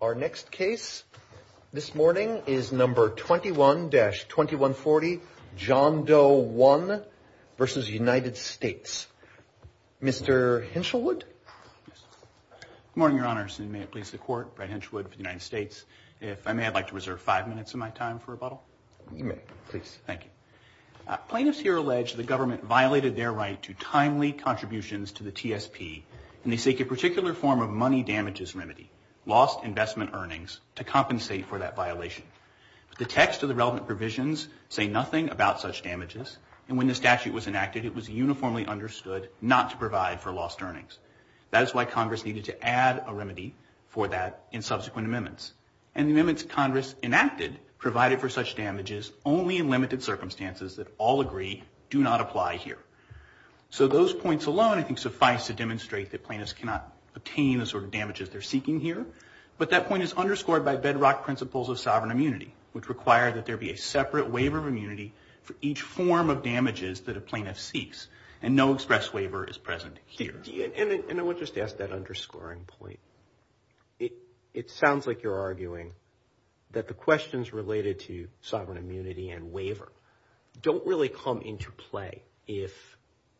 Our next case this morning is number 21-2140, John Doe1 versus United States. Mr. Hinchelwood? Good morning, Your Honors. And may it please the Court, Brad Hinchelwood for the United States. If I may, I'd like to reserve five minutes in my time for rebuttal. You may, please. Thank you. Plaintiffs here allege the government violated their right to timely contributions to the TSP, and they seek a particular form of money damages remedy, lost investment earnings, to compensate for that violation. The text of the relevant provisions say nothing about such damages. And when the statute was enacted, it was uniformly understood not to provide for lost earnings. That is why Congress needed to add a remedy for that in subsequent amendments. And the amendments Congress enacted provided for such damages only in limited circumstances that all agree do not apply here. So those points alone, I think, suffice to demonstrate that plaintiffs cannot obtain the sort of damages they're seeking here. But that point is underscored by bedrock principles of sovereign immunity, which require that there be a separate waiver of immunity for each form of damages that a plaintiff seeks. And no express waiver is present here. And I would just ask that underscoring point. It sounds like you're arguing that the questions related to sovereign immunity and waiver don't really come into play if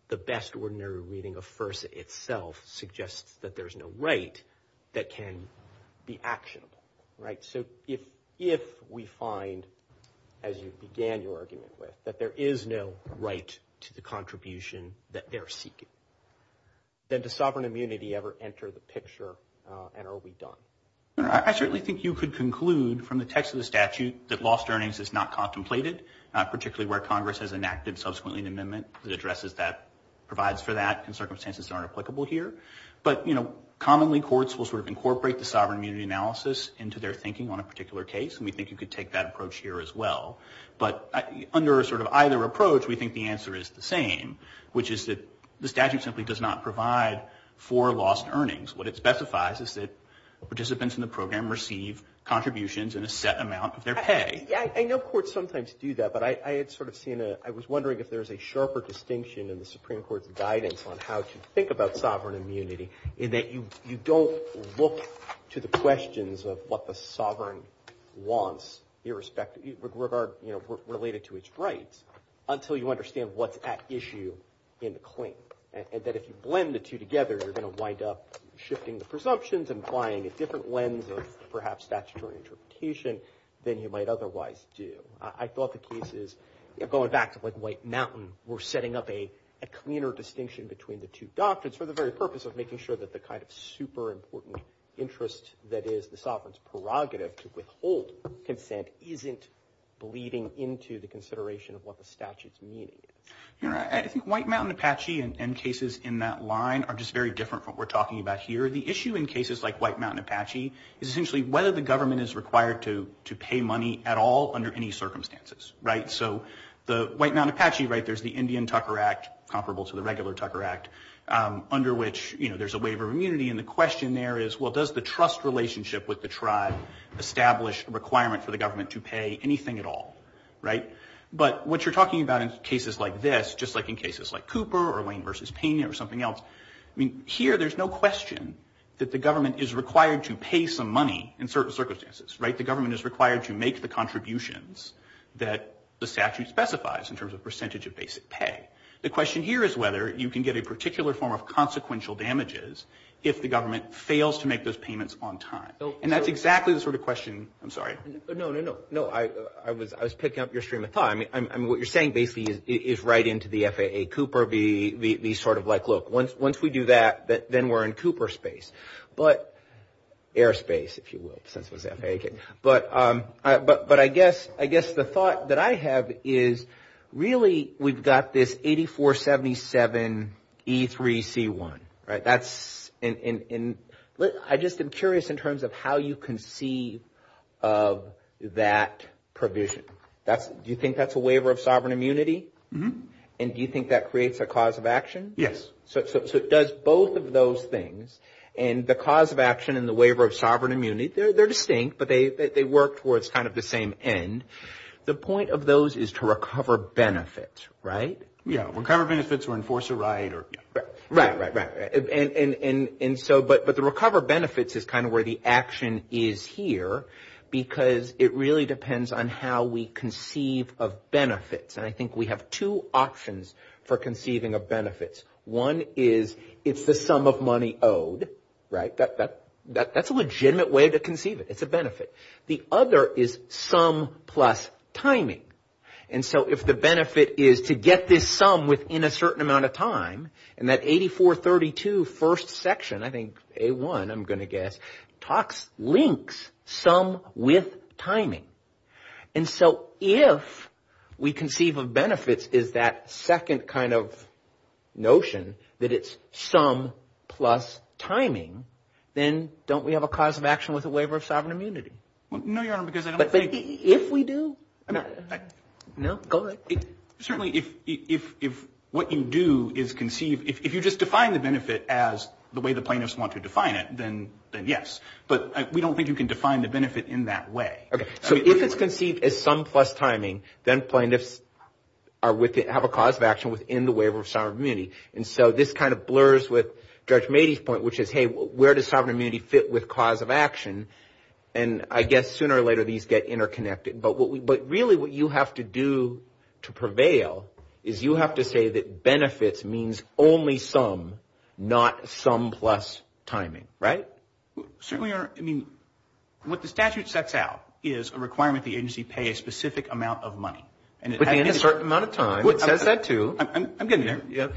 the best ordinary reading of FERSA itself suggests that there is no right that can be actionable. So if we find, as you began your argument with, that there is no right to the contribution that they're seeking, then does sovereign immunity ever enter the picture? And are we done? I certainly think you could conclude from the text of the statute that lost earnings is not contemplated, particularly where Congress has enacted subsequently an amendment that addresses that, provides for that in circumstances that aren't applicable here. But commonly, courts will incorporate the sovereign immunity analysis into their thinking on a particular case. And we think you could take that approach here as well. But under either approach, we think the answer is the same, which is that the statute simply does not provide for lost earnings. What it specifies is that participants in the program receive contributions in a set amount of their pay. Yeah, I know courts sometimes do that. But I had sort of seen a, I was wondering if there is a sharper distinction in the Supreme Court's guidance on how to think about sovereign immunity in that you don't look to the questions of what the sovereign wants, irrespective, related to its rights, until you understand what's at issue in the claim. And that if you blend the two together, you're going to wind up shifting the presumptions and applying a different lens of, perhaps, statutory interpretation than you might otherwise do. I thought the cases, going back to White Mountain, were setting up a cleaner distinction between the two doctrines for the very purpose of making sure that the kind of super important interest that is the sovereign's prerogative to withhold consent isn't bleeding into the consideration of what the statute's meaning. I think White Mountain Apache and cases in that line are just very different from what we're talking about here. The issue in cases like White Mountain Apache is essentially whether the government is required to pay money at all under any circumstances. So the White Mountain Apache, there's the Indian Tucker Act, comparable to the regular Tucker Act, under which there's a waiver of immunity. And the question there is, well, does the trust relationship with the tribe establish a requirement for the government to pay anything at all? But what you're talking about in cases like this, just like in cases like Cooper or Lane versus Pena or something else, here there's no question that the government is required to pay some money in certain circumstances. The government is required to make the contributions that the statute specifies in terms of percentage of basic pay. The question here is whether you can get a particular form of consequential damages if the government fails to make those payments on time. And that's exactly the sort of question. I'm sorry. No, no, no. No, I was picking up your stream of thought. I mean, what you're saying basically is right into the FAA Cooper, the sort of like, look, once we do that, then we're in Cooper space. But airspace, if you will, since it was FAA. But I guess the thought that I have is really we've got this 8477E3C1, right? That's in, I just am curious in terms of how you conceive of that provision. Do you think that's a waiver of sovereign immunity? And do you think that creates a cause of action? Yes. So it does both of those things. And the cause of action and the waiver of sovereign immunity, they're distinct. But they work towards kind of the same end. The point of those is to recover benefit, right? Yeah, recover benefits or enforce a right. Right, right, right. But the recover benefits is kind of where the action is here. Because it really depends on how we conceive of benefits. And I think we have two options for conceiving of benefits. One is it's the sum of money owed, right? That's a legitimate way to conceive it. It's a benefit. The other is sum plus timing. And so if the benefit is to get this sum within a certain amount of time, and that 8432 first section, I think A1, I'm going to guess, links sum with timing. And so if we conceive of benefits is that second kind of notion, that it's sum plus timing, then don't we have a cause of action with a waiver of sovereign immunity? No, Your Honor, because I don't think. But if we do, no, go ahead. Certainly, if what you do is conceive, if you just define the benefit as the way the plaintiffs want to define it, then yes. But we don't think you can define the benefit in that way. So if it's conceived as sum plus timing, then plaintiffs have a cause of action within the waiver of sovereign immunity. And so this kind of blurs with Judge Mady's point, which is, hey, where does sovereign immunity fit with cause of action? And I guess sooner or later, these get interconnected. But really, what you have to do to prevail is you have to say that benefits means only sum, not sum plus timing, right? Certainly, Your Honor. What the statute sets out is a requirement that the agency pay a specific amount of money. And it has to be a certain amount of time. It says that too. I'm getting there.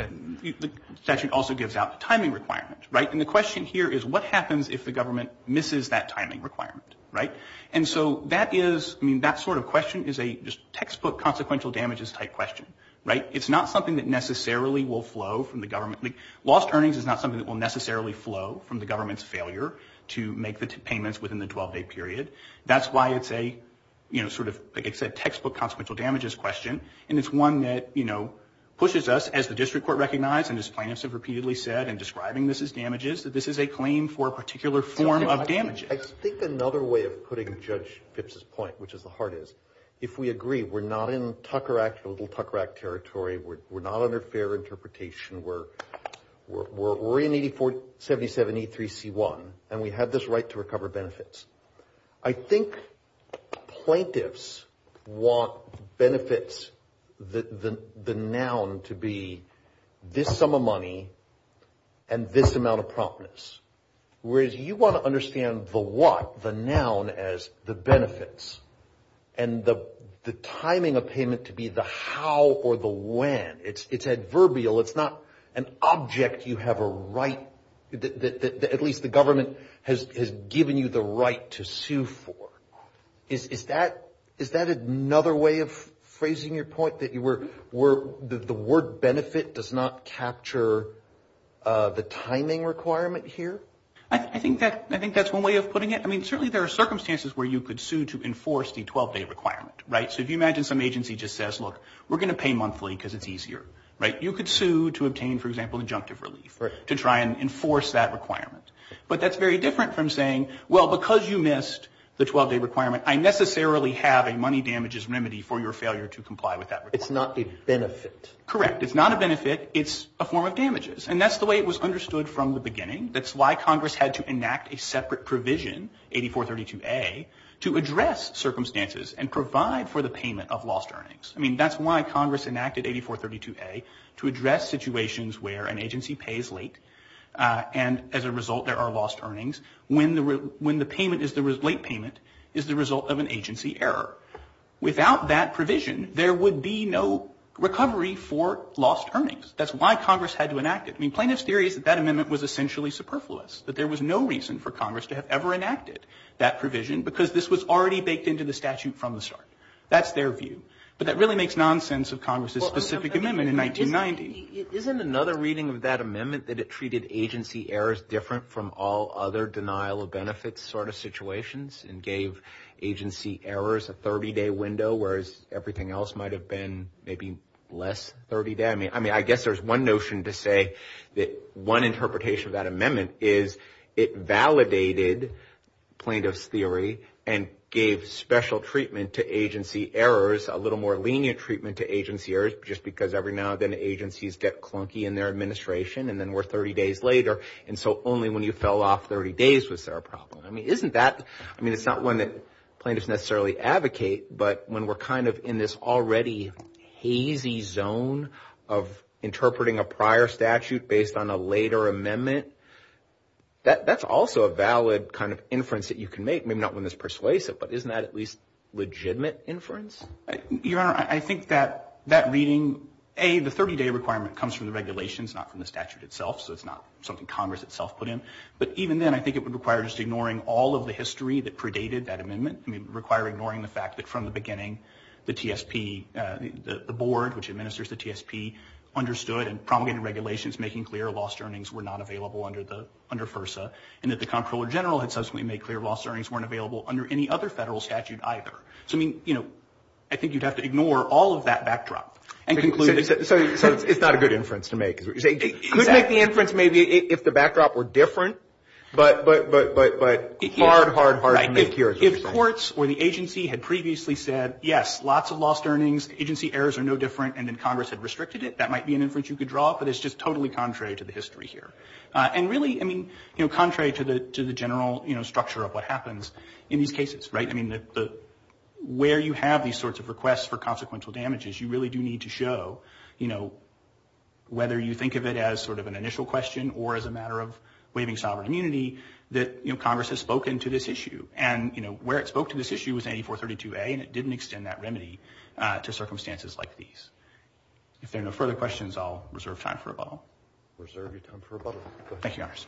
The statute also gives out the timing requirement, right? And the question here is, what happens if the government misses that timing requirement, right? And so that sort of question is a textbook consequential damages type question, right? It's not something that necessarily will flow from the government. Lost earnings is not something that will necessarily flow from the government's failure to make the payments within the 12-day period. That's why it's a textbook consequential damages question. And it's one that pushes us, as the district court recognized and as plaintiffs have repeatedly said in describing this as damages, that this is a claim for a particular form of damages. I think another way of putting Judge Phipps's point, which is the heart is, if we agree we're not in Tucker Act, a little Tucker Act territory, we're not under fair interpretation, we're in 8477E3C1, and we have this right to recover benefits. I think plaintiffs want benefits, the noun to be this sum of money and this amount of promptness. Whereas you want to understand the what, the noun as the benefits, and the timing of payment to be the how or the when. It's adverbial. It's not an object you have a right, at least the government has given you the right to sue for. Is that another way of phrasing your point, that the word benefit does not capture the timing requirement here? I think that's one way of putting it. I mean, certainly there are circumstances where you could sue to enforce the 12-day requirement. So if you imagine some agency just says, look, we're going to pay monthly because it's easier. You could sue to obtain, for example, injunctive relief to try and enforce that requirement. But that's very different from saying, well, because you missed the 12-day requirement, I necessarily have a money damages remedy for your failure to comply with that requirement. It's not a benefit. Correct. It's not a benefit. It's a form of damages. And that's the way it was understood from the beginning. That's why Congress had to enact a separate provision, 8432A, to address circumstances and provide for the payment of lost earnings. I mean, that's why Congress enacted 8432A, to address situations where an agency pays late, and as a result, there are lost earnings, when the late payment is the result of an agency error. Without that provision, there would be no recovery for lost earnings. That's why Congress had to enact it. I mean, plaintiff's theory is that that amendment was essentially superfluous, that there was no reason for Congress to have ever enacted that provision because this was already baked into the statute from the start. That's their view. But that really makes nonsense of Congress's specific amendment in 1990. Isn't another reading of that amendment that it treated agency errors different from all other denial of benefits sort of situations and gave agency errors a 30-day window, whereas everything else might have been maybe less 30-day? I mean, I guess there's one notion to say that one interpretation of that amendment is it validated plaintiff's theory and gave special treatment to agency errors, a little more lenient treatment to agency errors, just because every now and then agencies get clunky in their administration, and then we're 30 days later, and so only when you fell off 30 days was there a problem. I mean, isn't that, I mean, it's not one that plaintiffs necessarily advocate, but when we're kind of in this already hazy zone of interpreting a prior statute based on a later amendment, that's also a valid kind of inference that you can make, maybe not one that's persuasive, but isn't that at least legitimate inference? Your Honor, I think that that reading, A, the 30-day requirement comes from the regulations, not from the statute itself, so it's not something Congress itself put in, but even then, I think it would require just ignoring all of the history that predated that amendment. I mean, it would require ignoring the fact that from the beginning, the TSP, the board which administers the TSP, understood and promulgated regulations making clear lost earnings were not available under FERSA, and that the Comptroller General had subsequently made clear lost earnings weren't available under any other federal statute either. So, I mean, I think you'd have to ignore all of that backdrop and conclude that. So, it's not a good inference to make, is what you're saying? It could make the inference, maybe if the backdrop were different, but hard, hard, hard to make here. If courts or the agency had previously said, yes, lots of lost earnings, agency errors are no different, and then Congress had restricted it, that might be an inference you could draw, but it's just totally contrary to the history here. And really, I mean, contrary to the general structure of what happens in these cases, right? I mean, where you have these sorts of requests for consequential damages, you really do need to show, you know, whether you think of it as sort of an initial question, or as a matter of waiving sovereign immunity, that Congress has spoken to this issue. And, you know, where it spoke to this issue was in 8432A, and it didn't extend that remedy to circumstances like these. If there are no further questions, I'll reserve time for rebuttal. Reserve your time for rebuttal, go ahead. Thank you, Your Honors.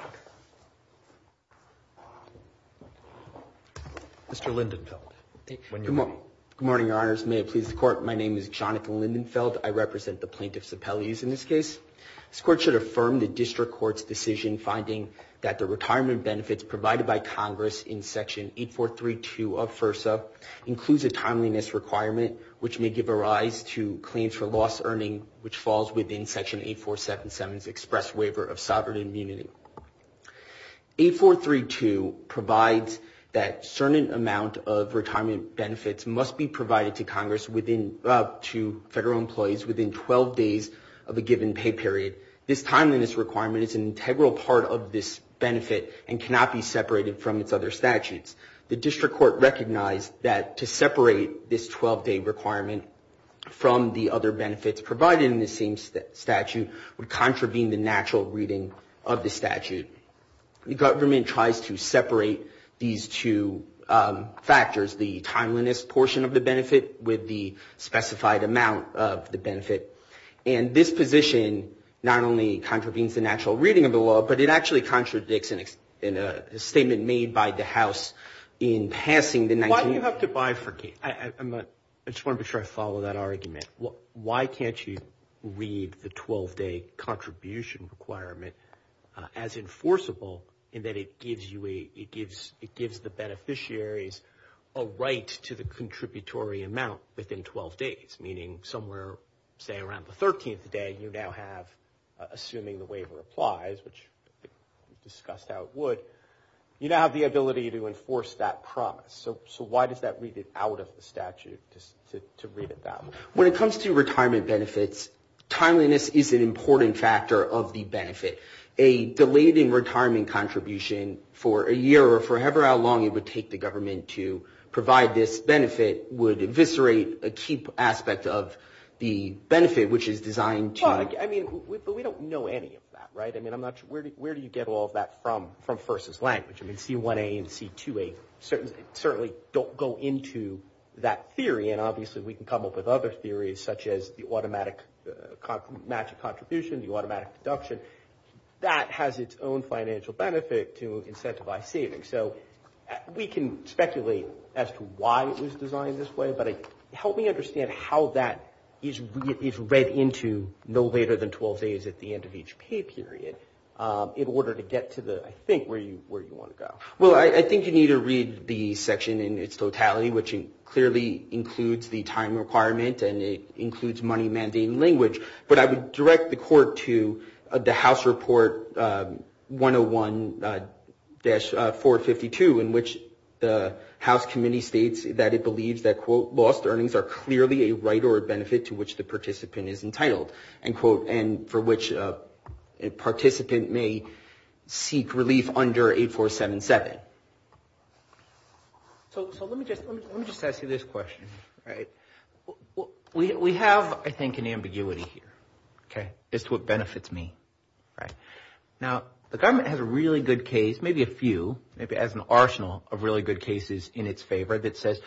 Okay. Mr. Lindenfeld, when you're ready. Good morning, Your Honors. May it please the Court, my name is Jonathan Lindenfeld. I represent the Plaintiffs' Appellees in this case. This Court should affirm the District Court's decision finding that the retirement benefits provided by Congress in section 8432 of FERSA includes a timeliness requirement, which may give a rise to claims for lost earning, which falls within section 8477's Express Waiver of Sovereign Immunity. 8432 provides that certain amount of retirement benefits must be provided to Congress to federal employees within 12 days of a given pay period. This timeliness requirement is an integral part of this benefit and cannot be separated from its other statutes. The District Court recognized that to separate this 12-day requirement from the other benefits provided in the same statute would contravene the natural reading of the statute. The government tries to separate these two factors, the timeliness portion of the benefit with the specified amount of the benefit. And this position not only contravenes the natural reading of the law, but it actually contradicts in a statement made by the House in passing the 19- Why do you have to bifurcate? I just want to be sure I follow that argument. Why can't you read the 12-day contribution requirement as enforceable in that it gives the beneficiaries a right to the contributory amount within 12 days, meaning somewhere, say, around the 13th day, you now have, assuming the waiver applies, which we discussed how it would, you now have the ability to enforce that promise. So why does that read it out of the statute just to read it that way? When it comes to retirement benefits, timeliness is an important factor of the benefit. A delayed in retirement contribution for a year or for however long it would take the government to provide this benefit would eviscerate a key aspect of the benefit, which is designed to- Well, I mean, but we don't know any of that, right? I mean, I'm not sure, where do you get all of that from, from First's language? I mean, C1a and C2a certainly don't go into that theory. And obviously we can come up with other theories such as the automatic match of contribution, the automatic deduction. That has its own financial benefit to incentivize savings. So we can speculate as to why it was designed this way, but help me understand how that is read into no later than 12 days at the end of each pay period in order to get to the, I think, where you want to go. Well, I think you need to read the section in its totality, which clearly includes the time requirement and it includes money mandating language, but I would direct the court to the House Report 101-452, in which the House Committee states that it believes that, quote, lost earnings are clearly a right or a benefit to which the participant is entitled, end quote, and for which a participant may seek relief under 8477. So let me just ask you this question, right? We have, I think, an ambiguity here, okay, as to what benefits me, right? Now, the government has a really good case, maybe a few, maybe has an arsenal of really good cases in its favor that says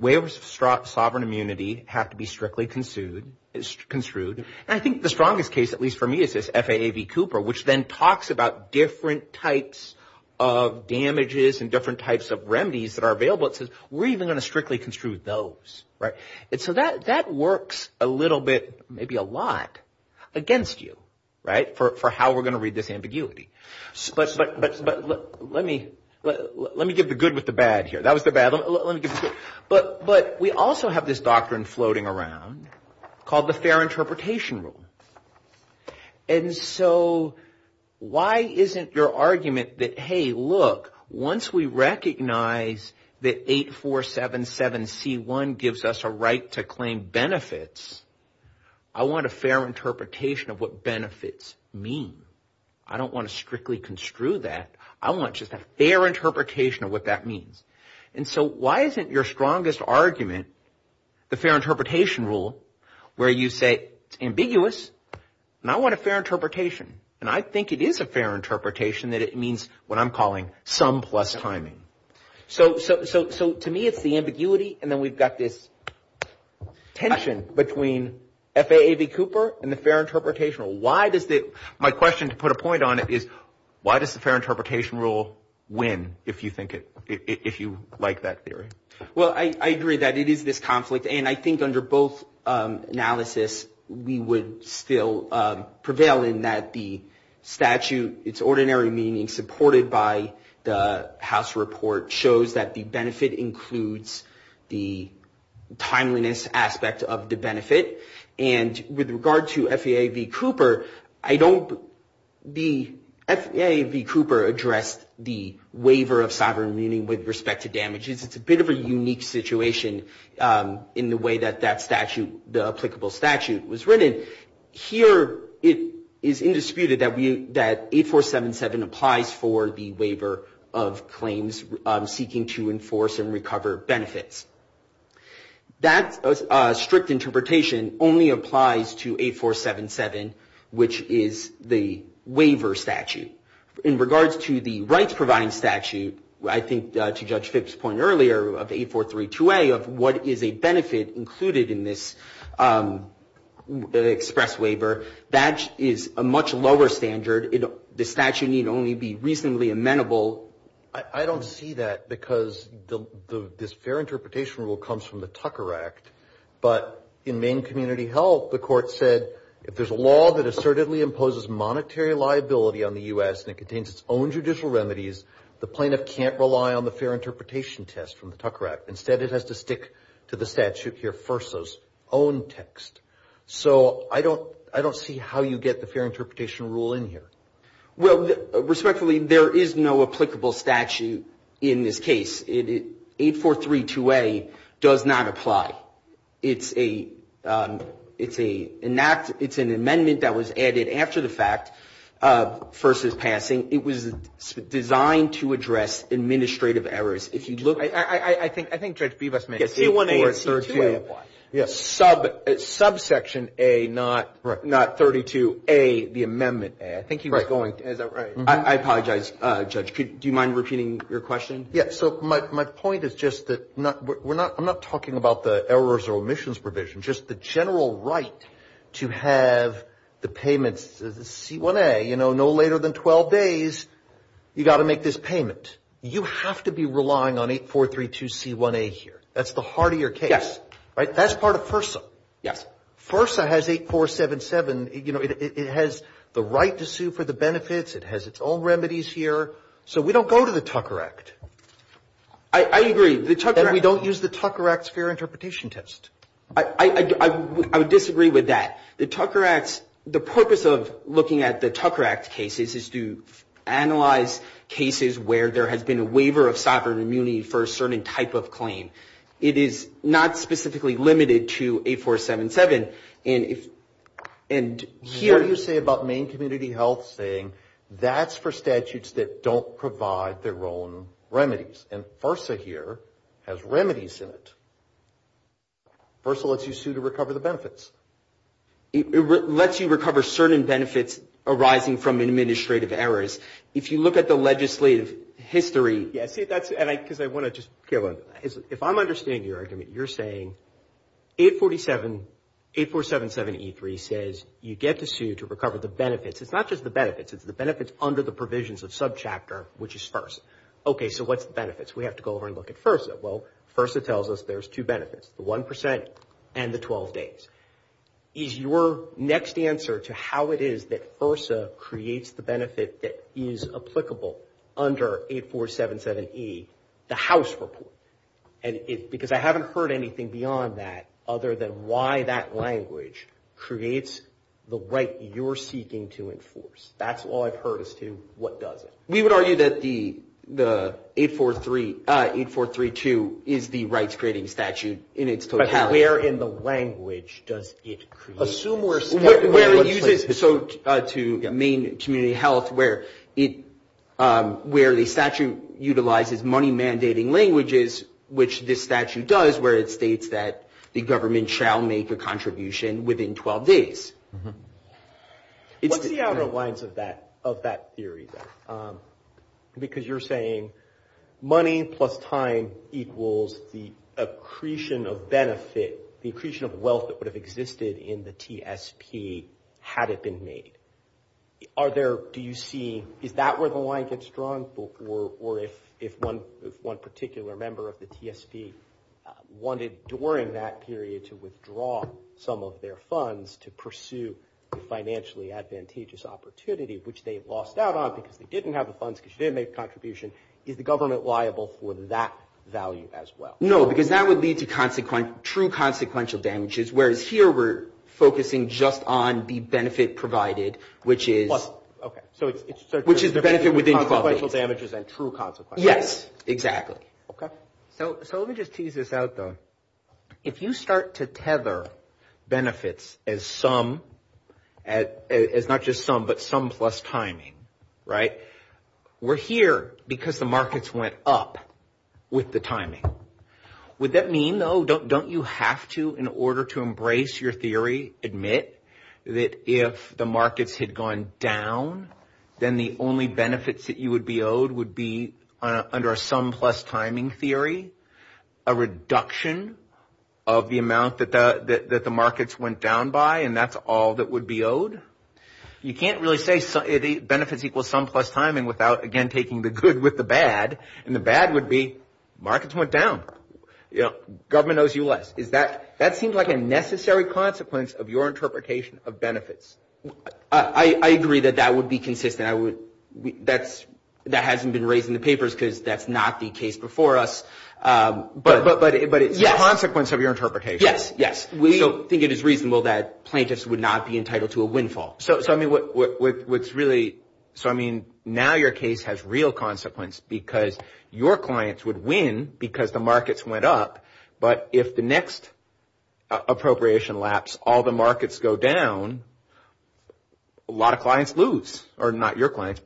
waivers of sovereign immunity have to be strictly construed. And I think the strongest case, at least for me, is this FAA v. Cooper, which then talks about different types of damages and different types of remedies that are available. It says we're even going to strictly construe those, right? And so that works a little bit, maybe a lot, against you, right, for how we're going to read this ambiguity. But let me give the good with the bad here. That was the bad, let me give the good. But we also have this doctrine floating around called the Fair Interpretation Rule. And so why isn't your argument that, hey, look, once we recognize that 8477C1 gives us a right to claim benefits, I want a fair interpretation of what benefits mean. I don't want to strictly construe that. I want just a fair interpretation of what that means. And so why isn't your strongest argument, the Fair Interpretation Rule, where you say it's ambiguous, and I want a fair interpretation. And I think it is a fair interpretation that it means what I'm calling sum plus timing. So to me, it's the ambiguity, and then we've got this tension between FAA v. Cooper and the Fair Interpretation Rule. Why does the, my question, to put a point on it, is why does the Fair Interpretation Rule win, if you think it, if you like that theory? Well, I agree that it is this conflict. And I think under both analysis, we would still prevail in that the statute, its ordinary meaning supported by the House report shows that the benefit includes the timeliness aspect of the benefit. And with regard to FAA v. Cooper, I don't, the FAA v. Cooper addressed the waiver of sovereign meaning with respect to damages. It's a bit of a unique situation in the way that that statute, the applicable statute was written. Here, it is indisputed that we, that 8477 applies for the waiver of claims seeking to enforce and recover benefits. That strict interpretation only applies to 8477, which is the waiver statute. In regards to the rights-providing statute, I think to Judge Phipps' point earlier of 8432A of what is a benefit included in this express waiver, that is a much lower standard. The statute need only be reasonably amenable. I don't see that because this Fair Interpretation Rule comes from the Tucker Act, but in Maine Community Health, the court said, if there's a law that assertedly imposes monetary liability on the U.S. and it contains its own judicial remedies, the plaintiff can't rely on the Fair Interpretation Test from the Tucker Act. Instead, it has to stick to the statute here, FERSA's own text. So I don't see how you get the Fair Interpretation Rule in here. Well, respectfully, there is no applicable statute in this case. 8432A does not apply. It's a, it's an amendment that was added after the fact of FERSA's passing. It was designed to address administrative errors. If you look- I think Judge Bebus made a C1A and C2A apply. Yes, subsection A, not 32A, the amendment A. I think he was going, is that right? I apologize, Judge. Do you mind repeating your question? Yeah, so my point is just that we're not, I'm not talking about the errors or omissions provision, just the general right to have the payments, the C1A, you know, no later than 12 days, you got to make this payment. You have to be relying on 8432C1A here. That's the heart of your case, right? That's part of FERSA. Yes. FERSA has 8477, you know, it has the right to sue for the benefits. It has its own remedies here. So we don't go to the Tucker Act. I agree, the Tucker Act- And we don't use the Tucker Act's Fair Interpretation Test. I would disagree with that. The Tucker Act's, the purpose of looking at the Tucker Act cases is to analyze cases where there has been a waiver of sovereign immunity for a certain type of claim. It is not specifically limited to 8477, and if, and here- What do you say about Maine Community Health saying that's for statutes that don't provide their own remedies? And FERSA here has remedies in it. FERSA lets you sue to recover the benefits. It lets you recover certain benefits arising from administrative errors. If you look at the legislative history- Yeah, see, that's, and I, because I want to just, Caleb, if I'm understanding your argument, you're saying 847, 8477E3 says you get to sue to recover the benefits. It's not just the benefits. It's the benefits under the provisions of subchapter, which is FERSA. Okay, so what's the benefits? We have to go over and look at FERSA. Well, FERSA tells us there's two benefits, the 1% and the 12 days. Is your next answer to how it is that FERSA creates the benefit that is applicable under 8477E, the house report? And it, because I haven't heard anything beyond that other than why that language creates the right you're seeking to enforce. That's all I've heard as to what does it. We would argue that the 8432 is the rights-creating statute in its totality. But where in the language does it create? Assume we're- Where it uses, so to Maine Community Health, where it, where the statute utilizes money-mandating languages, which this statute does, where it states that the government shall make a contribution within 12 days. What's the outer lines of that theory then? Because you're saying money plus time equals the accretion of benefit, the accretion of wealth that would have existed in the TSP had it been made. Are there, do you see, is that where the line gets drawn? Or if one particular member of the TSP wanted during that period to withdraw some of their funds to pursue the financially advantageous opportunity, which they've lost out on because they didn't have the funds because you didn't make a contribution, is the government liable for that value as well? No, because that would lead to consequent, true consequential damages. Whereas here we're focusing just on the benefit provided, which is- Okay, so it's- Which is the benefit within 12 days. Consequential damages and true consequences. Yes, exactly. Okay. So let me just tease this out though. If you start to tether benefits as some, as not just some, but some plus timing, right? We're here because the markets went up with the timing. Would that mean though, don't you have to in order to embrace your theory, admit that if the markets had gone down, then the only benefits that you would be owed would be under a sum plus timing theory, a reduction of the amount that the markets went down by, and that's all that would be owed? You can't really say benefits equal sum plus timing without again, taking the good with the bad. And the bad would be markets went down. Government owes you less. That seems like a necessary consequence of your interpretation of benefits. I agree that that would be consistent. That hasn't been raised in the papers because that's not the case before us. But it's a consequence of your interpretation. Yes, yes. We don't think it is reasonable that plaintiffs would not be entitled to a windfall. So I mean, what's really, so I mean, now your case has real consequence because your clients would win because the markets went up, but if the next appropriation lapse, all the markets go down, a lot of clients lose, or not your clients,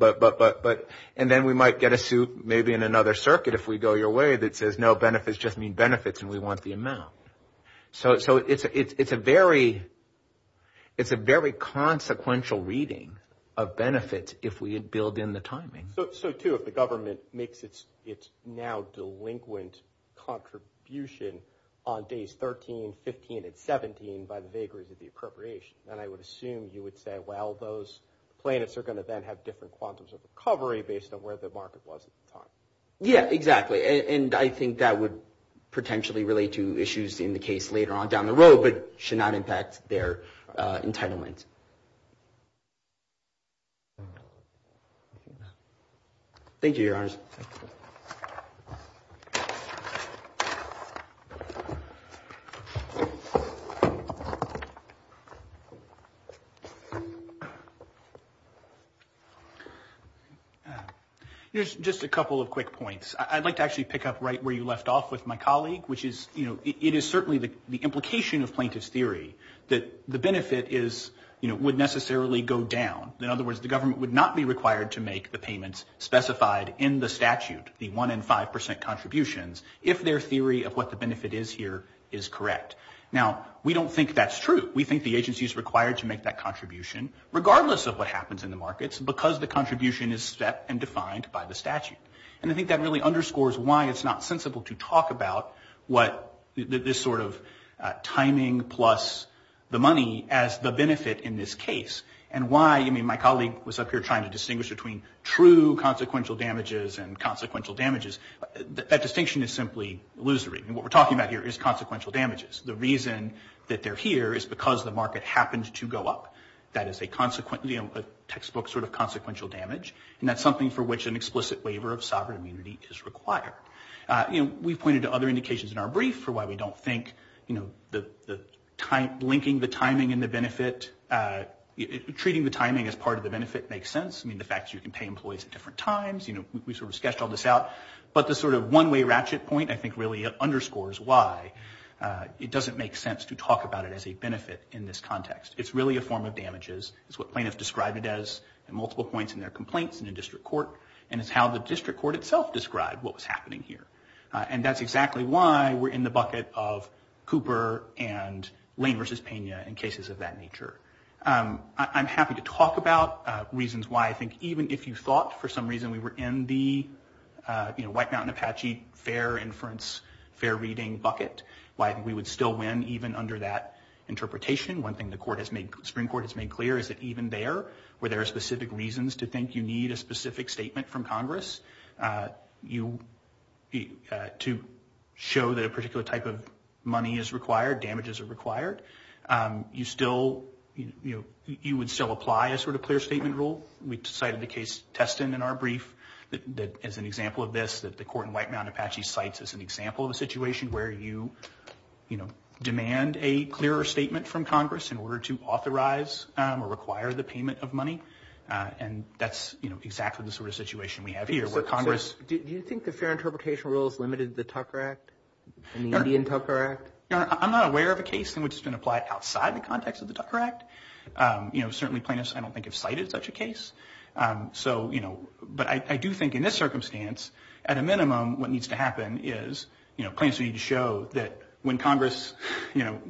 and then we might get a suit, maybe in another circuit if we go your way, that says no, benefits just mean benefits and we want the amount. So it's a very consequential reading of benefits if we had built in the timing. So too, if the government makes its now delinquent contribution on days 13, 15, and 17 by the vagaries of the appropriation, then I would assume you would say, well, those plaintiffs are gonna then have different quantums of recovery based on where the market was at the time. Yeah, exactly. And I think that would potentially relate to issues in the case later on down the road, but should not impact their entitlement. Thank you, your honors. Here's just a couple of quick points. I'd like to actually pick up right where you left off with my colleague, which is, it is certainly the implication of plaintiff's theory that the benefit is, would necessarily go down. In other words, the government would not be required to make the payments specified in the statute, the one in 5% contributions, if their theory of what the benefit is here is correct. Now, we don't think that's true. We think the agency is required to make that contribution, regardless of what happens in the markets, because the contribution is set and defined by the statute. And I think that really underscores why it's not sensible to talk about what this sort of timing plus the money as the benefit in this case, and why, I mean, my colleague was up here trying to distinguish between true consequential damages and consequential damages. That distinction is simply illusory. And what we're talking about here is consequential damages. The reason that they're here is because the market happened to go up. That is a textbook sort of consequential damage. And that's something for which an explicit waiver of sovereign immunity is required. We've pointed to other indications in our brief for why we don't think linking the timing and the benefit, treating the timing as part of the benefit makes sense. I mean, the fact that you can pay employees at different times, we sort of sketched all this out. But the sort of one-way ratchet point, I think really underscores why it doesn't make sense to talk about it as a benefit in this context. It's really a form of damages. It's what plaintiffs described it as in multiple points in their complaints in the district court and it's how the district court itself described what was happening here. And that's exactly why we're in the bucket of Cooper and Lane versus Pena in cases of that nature. I'm happy to talk about reasons why I think even if you thought for some reason we were in the White Mountain Apache fair inference, fair reading bucket, why we would still win even under that interpretation. One thing the Supreme Court has made clear is that even there, where there are specific reasons to think you need a specific statement from Congress, to show that a particular type of money is required, damages are required, you would still apply a sort of clear statement rule. We cited the case Teston in our brief that as an example of this, that the court in White Mountain Apache cites as an example of a situation where you demand a clearer statement from Congress in order to authorize or require the payment of money. And that's exactly the sort of situation we have here where Congress... Do you think the fair interpretation rules limited the Tucker Act and the Indian Tucker Act? I'm not aware of a case in which it's been applied outside the context of the Tucker Act. Certainly plaintiffs I don't think have cited such a case. But I do think in this circumstance, at a minimum, what needs to happen is plaintiffs need to show that when Congress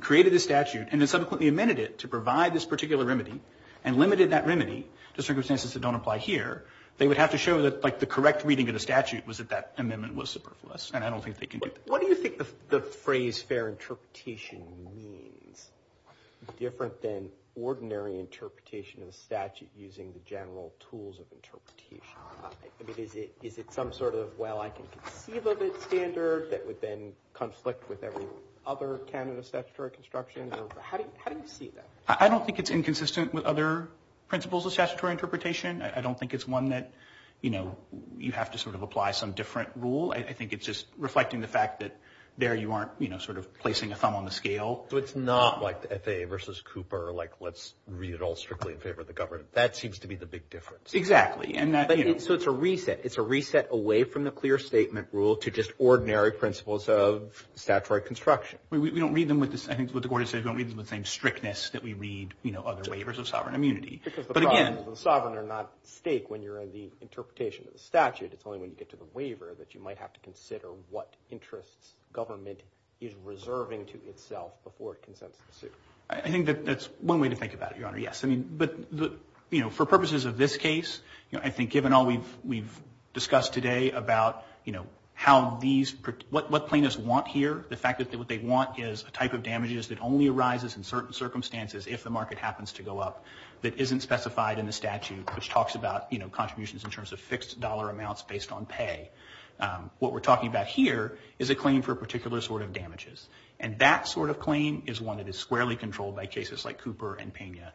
created this statute and then subsequently amended it to provide this particular remedy and limited that remedy to circumstances that don't apply here, they would have to show that the correct reading of the statute was that that amendment was superfluous. And I don't think they can do that. What do you think the phrase fair interpretation means? Different than ordinary interpretation of the statute using the general tools of interpretation. I mean, is it some sort of, well, I can conceive of it standard that would then conflict with every other Canada statutory construction. How do you see that? I don't think it's inconsistent with other principles of statutory interpretation. I don't think it's one that, you know, you have to sort of apply some different rule. I think it's just reflecting the fact that there you aren't, you know, sort of placing a thumb on the scale. So it's not like the FAA versus Cooper, like let's read it all strictly in favor of the government. That seems to be the big difference. Exactly. So it's a reset. It's a reset away from the clear statement rule to just ordinary principles of statutory construction. We don't read them with the same, I think what the court has said, we don't read them with the same strictness that we read, you know, other waivers of sovereign immunity. Because the sovereign are not at stake when you're in the interpretation of the statute. It's only when you get to the waiver that you might have to consider what interests government is reserving to itself before it consents to the suit. I think that that's one way to think about it, Your Honor, yes. I mean, but, you know, for purposes of this case, you know, I think given all we've discussed today about, you know, how these, what plaintiffs want here, the fact that what they want is a type of damages that only arises in certain circumstances if the market happens to go up that isn't specified in the statute, which talks about, you know, contributions in terms of fixed dollar amounts based on pay. What we're talking about here is a claim for a particular sort of damages. And that sort of claim is one that is squarely controlled by cases like Cooper and Pena.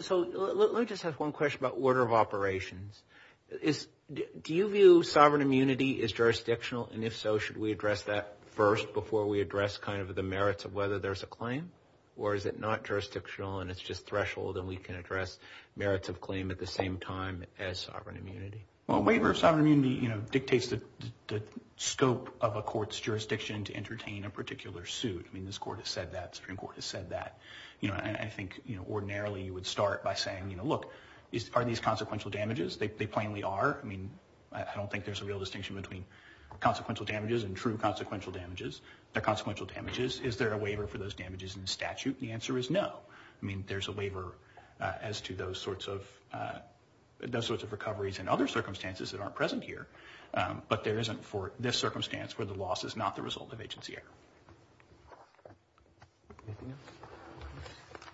So let me just ask one question about order of operations. Is, do you view sovereign immunity as jurisdictional? And if so, should we address that first before we address kind of the merits of whether there's a claim? Or is it not jurisdictional and it's just threshold and we can address merits of claim at the same time as sovereign immunity? Well, waiver of sovereign immunity, you know, dictates the scope of a court's jurisdiction to entertain a particular suit. I mean, this court has said that, Supreme Court has said that, you know, and I think, you know, ordinarily you would start by saying, you know, look, are these consequential damages? They plainly are. I mean, I don't think there's a real distinction between consequential damages and true consequential damages. They're consequential damages. Is there a waiver for those damages in statute? The answer is no. I mean, there's a waiver as to those sorts of, those sorts of recoveries and other circumstances that aren't present here. But there isn't for this circumstance where the loss is not the result of agency error.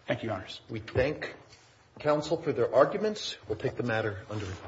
Thank you, Your Honors. We thank counsel for their arguments. We'll take the matter under review.